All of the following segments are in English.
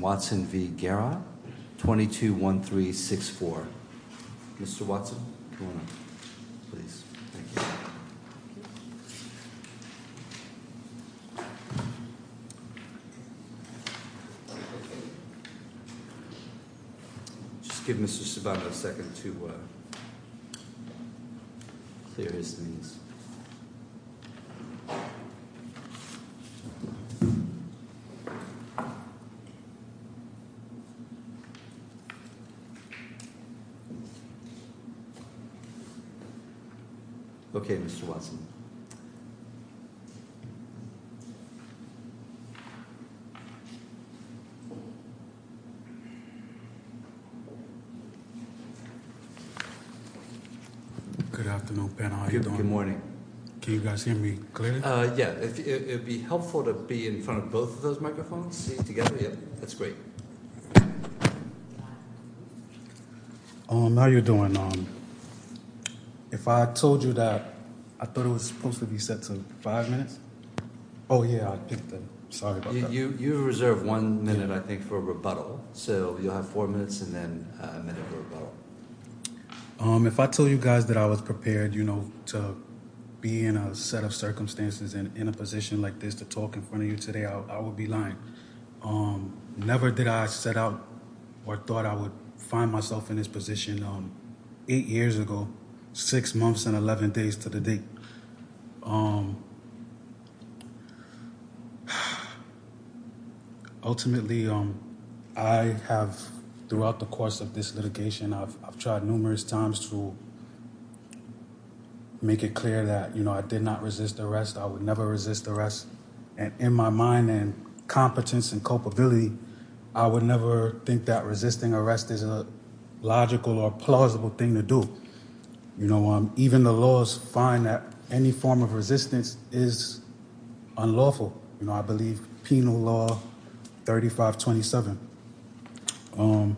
Watson v. Guerra, 22-1364. Mr. Watson, come on up, please. Thank you. Just give Mr. Cervantes a second to clear his things. Okay, Mr. Watson. Good afternoon, panel. How are you doing? Good morning. Can you guys hear me clearly? Yeah, it would be helpful to be in front of both of those microphones together. Oh, yeah, that's great. How are you doing? If I told you that I thought it was supposed to be set to five minutes. Oh, yeah, sorry. You reserve one minute, I think, for rebuttal. So you have four minutes and then a minute for rebuttal. If I told you guys that I was prepared, you know, to be in a set of circumstances and in a position like this to talk in front of you today, I would be lying. Never did I set out or thought I would find myself in this position eight years ago, six months and 11 days to the date. Ultimately, I have throughout the course of this litigation, I've tried numerous times to make it clear that, you know, I did not resist arrest. I would never resist arrest. And in my mind and competence and culpability, I would never think that resisting arrest is a logical or plausible thing to do. You know, even the laws find that any form of resistance is unlawful. You know, I believe penal law. Thirty five. Twenty seven. I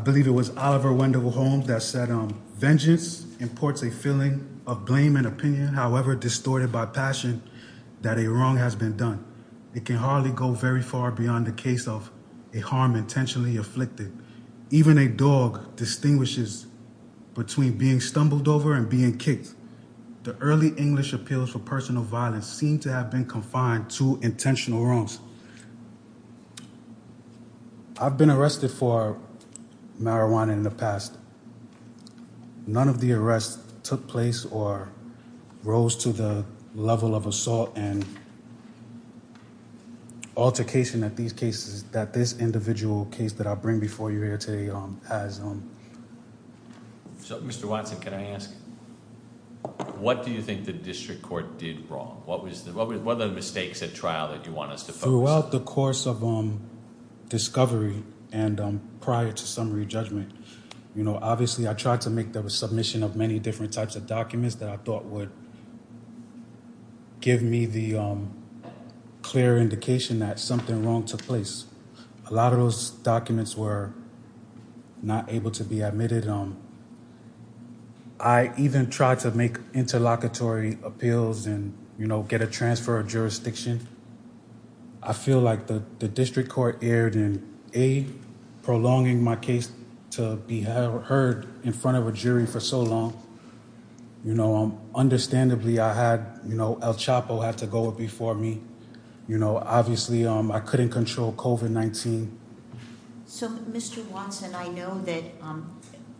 believe it was Oliver Wendell Holmes that said vengeance imports a feeling of blame and opinion, however, distorted by passion that a wrong has been done. It can hardly go very far beyond the case of a harm intentionally afflicted. Even a dog distinguishes between being stumbled over and being kicked. The early English appeals for personal violence seem to have been confined to intentional wrongs. I've been arrested for marijuana in the past. None of the arrests took place or rose to the level of assault and. Altercation at these cases that this individual case that I bring before you here today has. So, Mr. Watson, can I ask what do you think the district court did wrong? What was the what was one of the mistakes at trial that you want us to follow the course of discovery? And prior to summary judgment, you know, obviously, I tried to make the submission of many different types of documents that I thought would. Give me the clear indication that something wrong took place. A lot of those documents were not able to be admitted. I even tried to make interlocutory appeals and, you know, get a transfer of jurisdiction. I feel like the district court erred in a prolonging my case to be heard in front of a jury for so long. You know, understandably, I had, you know, El Chapo had to go before me. You know, obviously, I couldn't control COVID-19. So, Mr. Watson, I know that,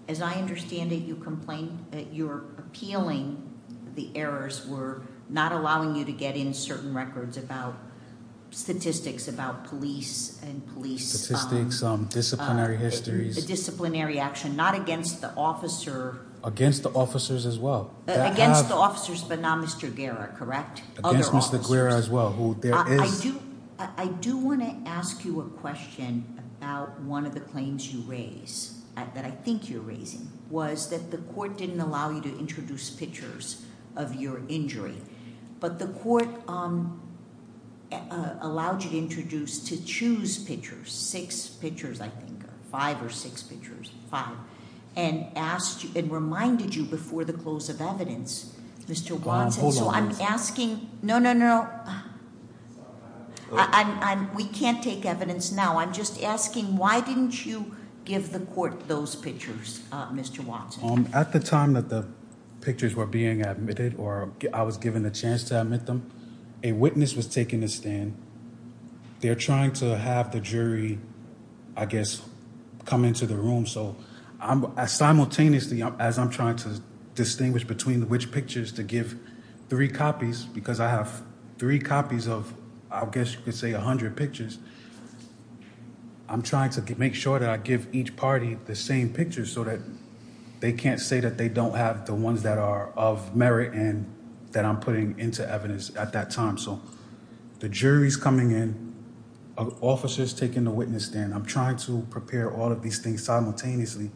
as I understand it, you complain that you're appealing. The errors were not allowing you to get in certain records about statistics, about police and police statistics, some disciplinary histories, disciplinary action, not against the officer against the officers as well. Against the officers, but not Mr. Guerra, correct? Against Mr. Guerra as well, who there is- I do want to ask you a question about one of the claims you raise, that I think you're raising, was that the court didn't allow you to introduce pictures of your injury. But the court allowed you to introduce, to choose pictures, six pictures, I think, five or six pictures, five, and reminded you before the close of evidence, Mr. Watson. So, I'm asking- No, no, no. We can't take evidence now. I'm just asking, why didn't you give the court those pictures, Mr. Watson? At the time that the pictures were being admitted, or I was given a chance to admit them, a witness was taking a stand. They're trying to have the jury, I guess, come into the room. So, simultaneously, as I'm trying to distinguish between which pictures to give three copies, because I have three copies of, I guess you could say, 100 pictures. I'm trying to make sure that I give each party the same pictures so that they can't say that they don't have the ones that are of merit and that I'm putting into evidence at that time. So, the jury's coming in, an officer's taking the witness stand. I'm trying to prepare all of these things simultaneously.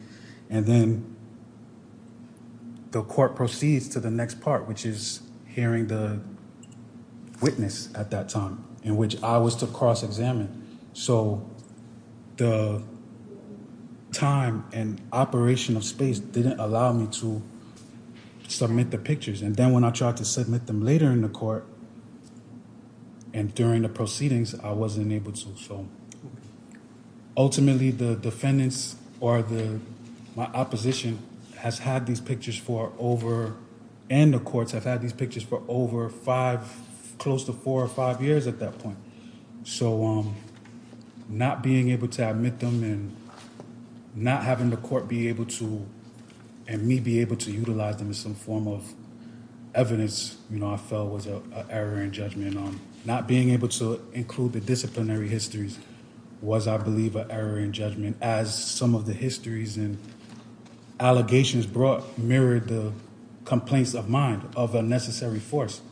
And then the court proceeds to the next part, which is hearing the witness at that time, in which I was to cross-examine. So, the time and operation of space didn't allow me to submit the pictures. And then when I tried to submit them later in the court and during the proceedings, I wasn't able to. So, ultimately, the defendants or my opposition has had these pictures for over, and the courts have had these pictures for over five, close to four or five years at that point. So, not being able to admit them and not having the court be able to, and me be able to utilize them as some form of evidence, you know, I felt was an error in judgment. Not being able to include the disciplinary histories was, I believe, an error in judgment, as some of the histories and allegations brought mirrored the complaints of mind of a necessary force.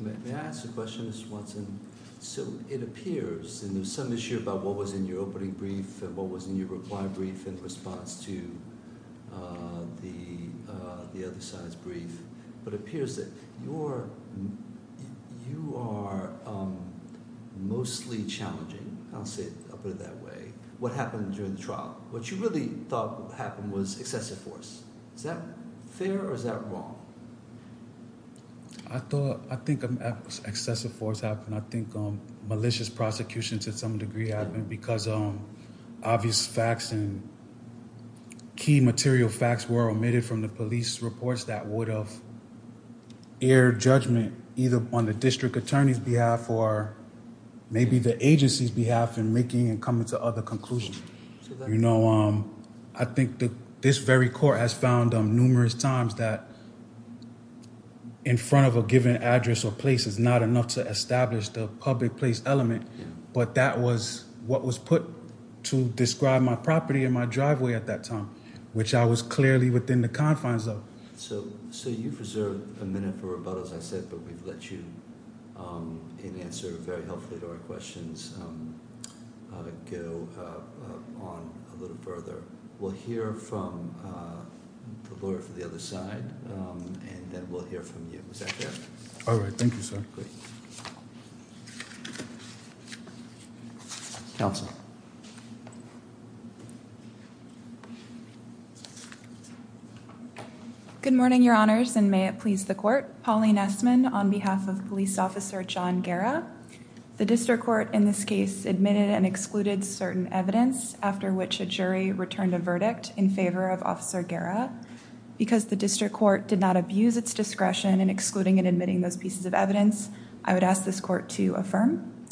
May I ask a question, Mr. Watson? So, it appears, and there was some issue about what was in your opening brief and what was in your reply brief in response to the other side's brief, but it appears that you are mostly challenging. I'll put it that way. What happened during the trial? What you really thought happened was excessive force. Is that fair or is that wrong? I think excessive force happened. I think malicious prosecution to some degree happened because obvious facts and key material facts were omitted from the police reports that would have erred judgment either on the district attorney's behalf or maybe the agency's behalf in making and coming to other conclusions. You know, I think this very court has found numerous times that in front of a given address or place is not enough to establish the public place element, but that was what was put to describe my property in my driveway at that time, which I was clearly within the confines of. So, you've reserved a minute for rebuttal, as I said, but we've let you, in answer very helpfully to our questions, go on a little further. We'll hear from the lawyer for the other side, and then we'll hear from you. Is that fair? All right. Thank you, sir. Great. Counsel. Good morning, Your Honors, and may it please the court. Pauline Essman on behalf of police officer John Guerra. The district court in this case admitted and excluded certain evidence after which a jury returned a verdict in favor of Officer Guerra. Because the district court did not abuse its discretion in excluding and admitting those pieces of evidence, I would ask this court to affirm.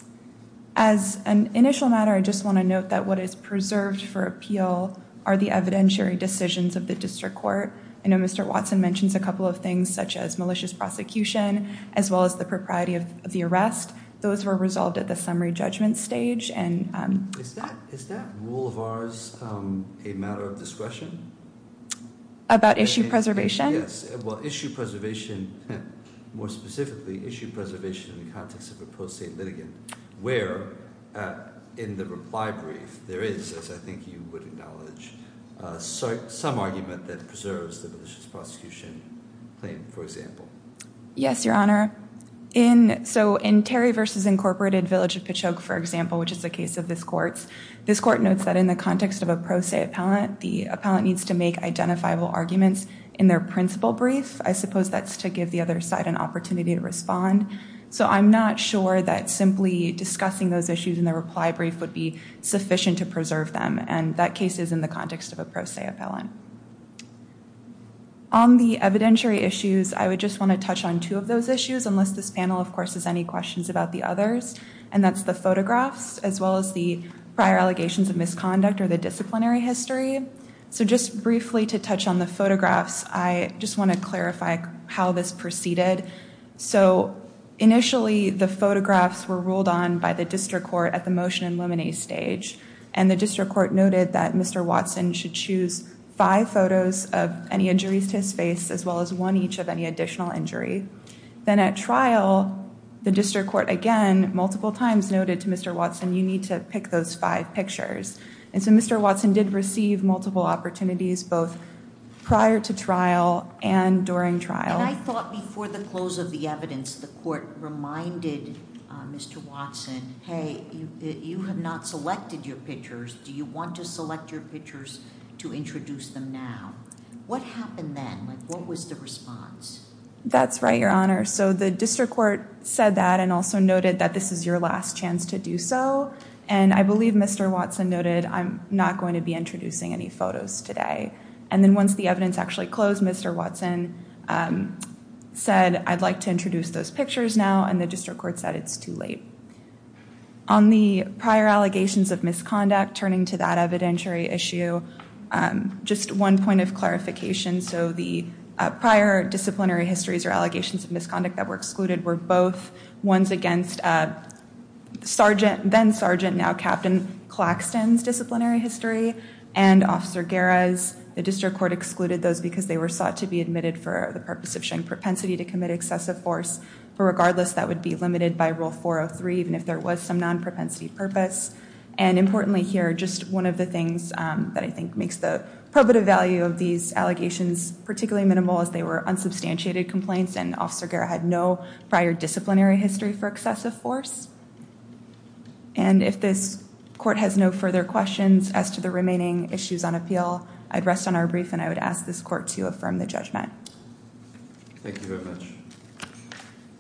As an initial matter, I just want to note that what is preserved for appeal are the evidentiary decisions of the district court. I know Mr. Watson mentions a couple of things, such as malicious prosecution, as well as the propriety of the arrest. Those were resolved at the summary judgment stage. Is that rule of ours a matter of discretion? About issue preservation? Yes. Well, issue preservation, more specifically, issue preservation in the context of a pro se litigant where, in the reply brief, there is, as I think you would acknowledge, some argument that preserves the malicious prosecution claim, for example. Yes, Your Honor. So in Terry v. Incorporated, Village of Pachogue, for example, which is the case of this court's, this court notes that in the context of a pro se appellant, the appellant needs to make identifiable arguments in their principal brief. I suppose that's to give the other side an opportunity to respond. So I'm not sure that simply discussing those issues in the reply brief would be sufficient to preserve them. And that case is in the context of a pro se appellant. On the evidentiary issues, I would just want to touch on two of those issues, unless this panel, of course, has any questions about the others. And that's the photographs, as well as the prior allegations of misconduct or the disciplinary history. So just briefly to touch on the photographs, I just want to clarify how this proceeded. So initially, the photographs were ruled on by the district court at the motion and limine stage. And the district court noted that Mr. Watson should choose five photos of any injuries to his face, as well as one each of any additional injury. Then at trial, the district court again, multiple times, noted to Mr. Watson, you need to pick those five pictures. And so Mr. Watson did receive multiple opportunities, both prior to trial and during trial. And I thought before the close of the evidence, the court reminded Mr. Watson, hey, you have not selected your pictures. Do you want to select your pictures to introduce them now? What happened then? What was the response? That's right, Your Honor. So the district court said that and also noted that this is your last chance to do so. And I believe Mr. Watson noted, I'm not going to be introducing any photos today. And then once the evidence actually closed, Mr. Watson said, I'd like to introduce those pictures now. And the district court said it's too late. On the prior allegations of misconduct, turning to that evidentiary issue, just one point of clarification. So the prior disciplinary histories or allegations of misconduct that were excluded were both ones against sergeant, then sergeant, now Captain Claxton's disciplinary history and Officer Guerra's. The district court excluded those because they were sought to be admitted for the purpose of showing propensity to commit excessive force. But regardless, that would be limited by Rule 403, even if there was some non-propensity purpose. And importantly here, just one of the things that I think makes the probative value of these allegations particularly minimal, is they were unsubstantiated complaints and Officer Guerra had no prior disciplinary history for excessive force. And if this court has no further questions as to the remaining issues on appeal, I'd rest on our brief and I would ask this court to affirm the judgment. Thank you very much.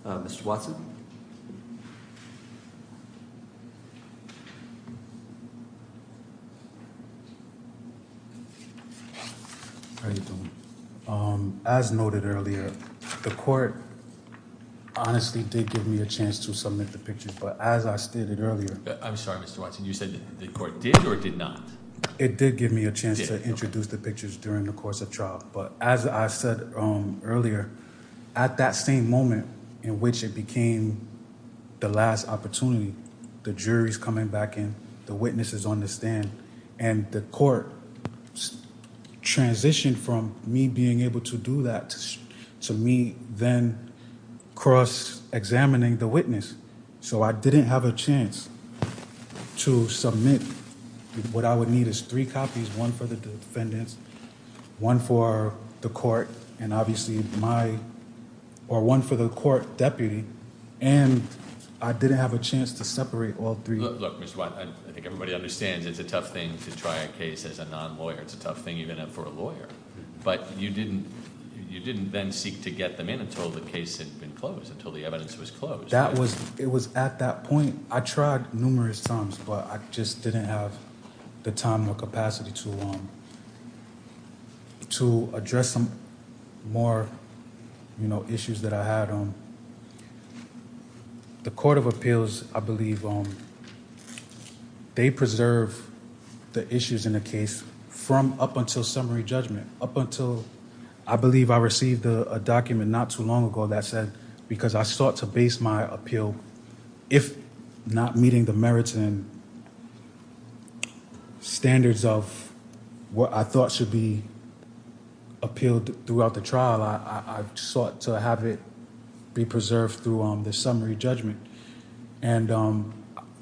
Mr. Watson. How you doing? As noted earlier, the court honestly did give me a chance to submit the pictures, but as I stated earlier- I'm sorry, Mr. Watson. You said the court did or did not? It did give me a chance to introduce the pictures during the course of trial. But as I said earlier, at that same moment in which it became the last opportunity, the jury's coming back in, the witness is on the stand, and the court transitioned from me being able to do that to me then cross-examining the witness. So I didn't have a chance to submit what I would need is three copies, one for the defendants, one for the court, and obviously one for the court deputy, and I didn't have a chance to separate all three. Look, Mr. Watson, I think everybody understands it's a tough thing to try a case as a non-lawyer. It's a tough thing even for a lawyer. But you didn't then seek to get them in until the case had been closed, until the evidence was closed. It was at that point. I tried numerous times, but I just didn't have the time or capacity to address some more issues that I had. The Court of Appeals, I believe, they preserve the issues in the case from up until summary judgment, up until I believe I received a document not too long ago that said because I sought to base my appeal, if not meeting the merits and standards of what I thought should be appealed throughout the trial, I sought to have it be preserved through the summary judgment. And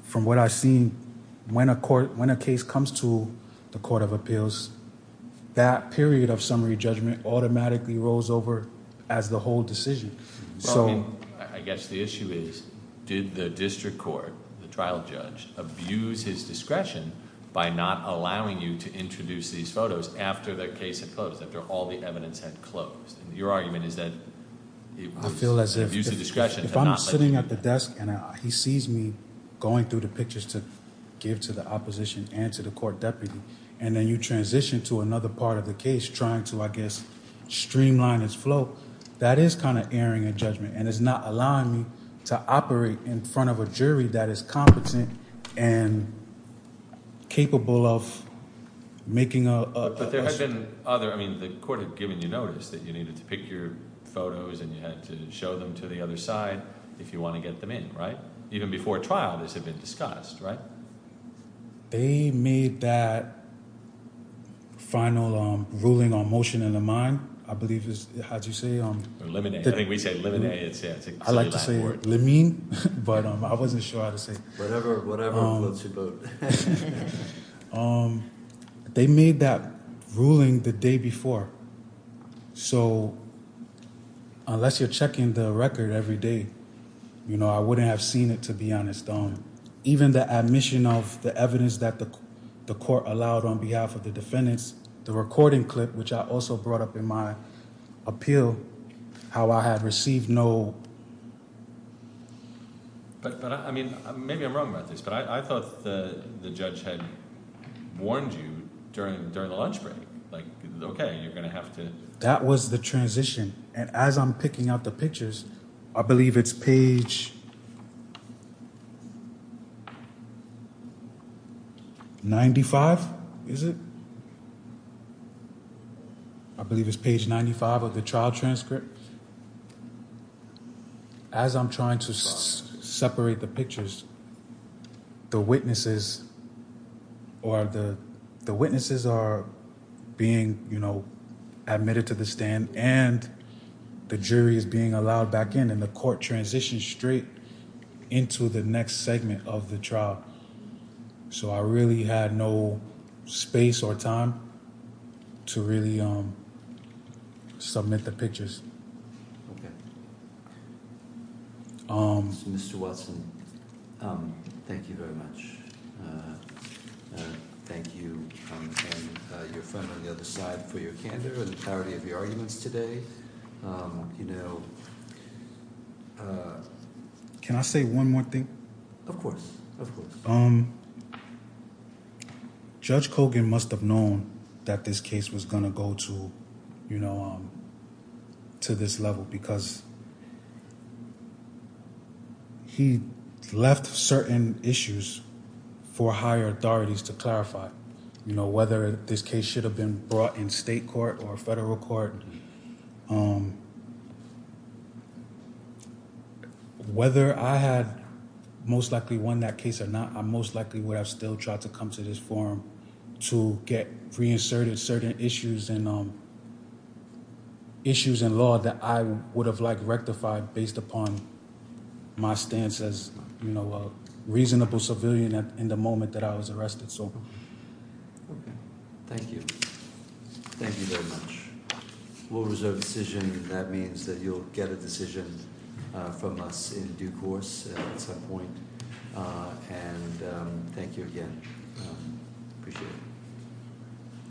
from what I've seen, when a case comes to the Court of Appeals, that period of summary judgment automatically rolls over as the whole decision. So- I guess the issue is, did the district court, the trial judge, abuse his discretion by not allowing you to introduce these photos after the case had closed, after all the evidence had closed? Your argument is that it was abuse of discretion- If I'm sitting at the desk and he sees me going through the pictures to give to the opposition and to the court deputy, and then you transition to another part of the case trying to, I guess, streamline his flow, that is kind of erring in judgment, and it's not allowing me to operate in front of a jury that is competent and capable of making a- But there have been other- I mean, the court had given you notice that you needed to pick your photos and you had to show them to the other side if you want to get them in, right? Even before trial, this had been discussed, right? They made that final ruling on motion in the mind, I believe is- how do you say- Limine. I think we say limine. It's a silly Latin word. I like to say limine, but I wasn't sure how to say- Whatever floats your boat. They made that ruling the day before, so unless you're checking the record every day, I wouldn't have seen it, to be honest. Even the admission of the evidence that the court allowed on behalf of the defendants, the recording clip, which I also brought up in my appeal, how I had received no- But, I mean, maybe I'm wrong about this, but I thought the judge had warned you during the lunch break. Like, okay, you're going to have to- That was the transition, and as I'm picking out the pictures, I believe it's page 95, is it? I believe it's page 95 of the trial transcript. As I'm trying to separate the pictures, the witnesses are being admitted to the stand, and the jury is being allowed back in, and the court transitions straight into the next segment of the trial. So, I really had no space or time to really submit the pictures. Mr. Watson, thank you very much. Thank you and your friend on the other side for your candor and the clarity of your arguments today. Can I say one more thing? Of course, of course. Judge Kogan must have known that this case was going to go to this level because he left certain issues for higher authorities to clarify. Whether this case should have been brought in state court or federal court, whether I had most likely won that case or not, I most likely would have still tried to come to this forum to get reinserted certain issues in law that I would have rectified based upon my stance as a reasonable civilian in the moment that I was arrested. Okay. Thank you. Thank you very much. We'll reserve a decision. That means that you'll get a decision from us in due course at some point. And thank you again. Appreciate it.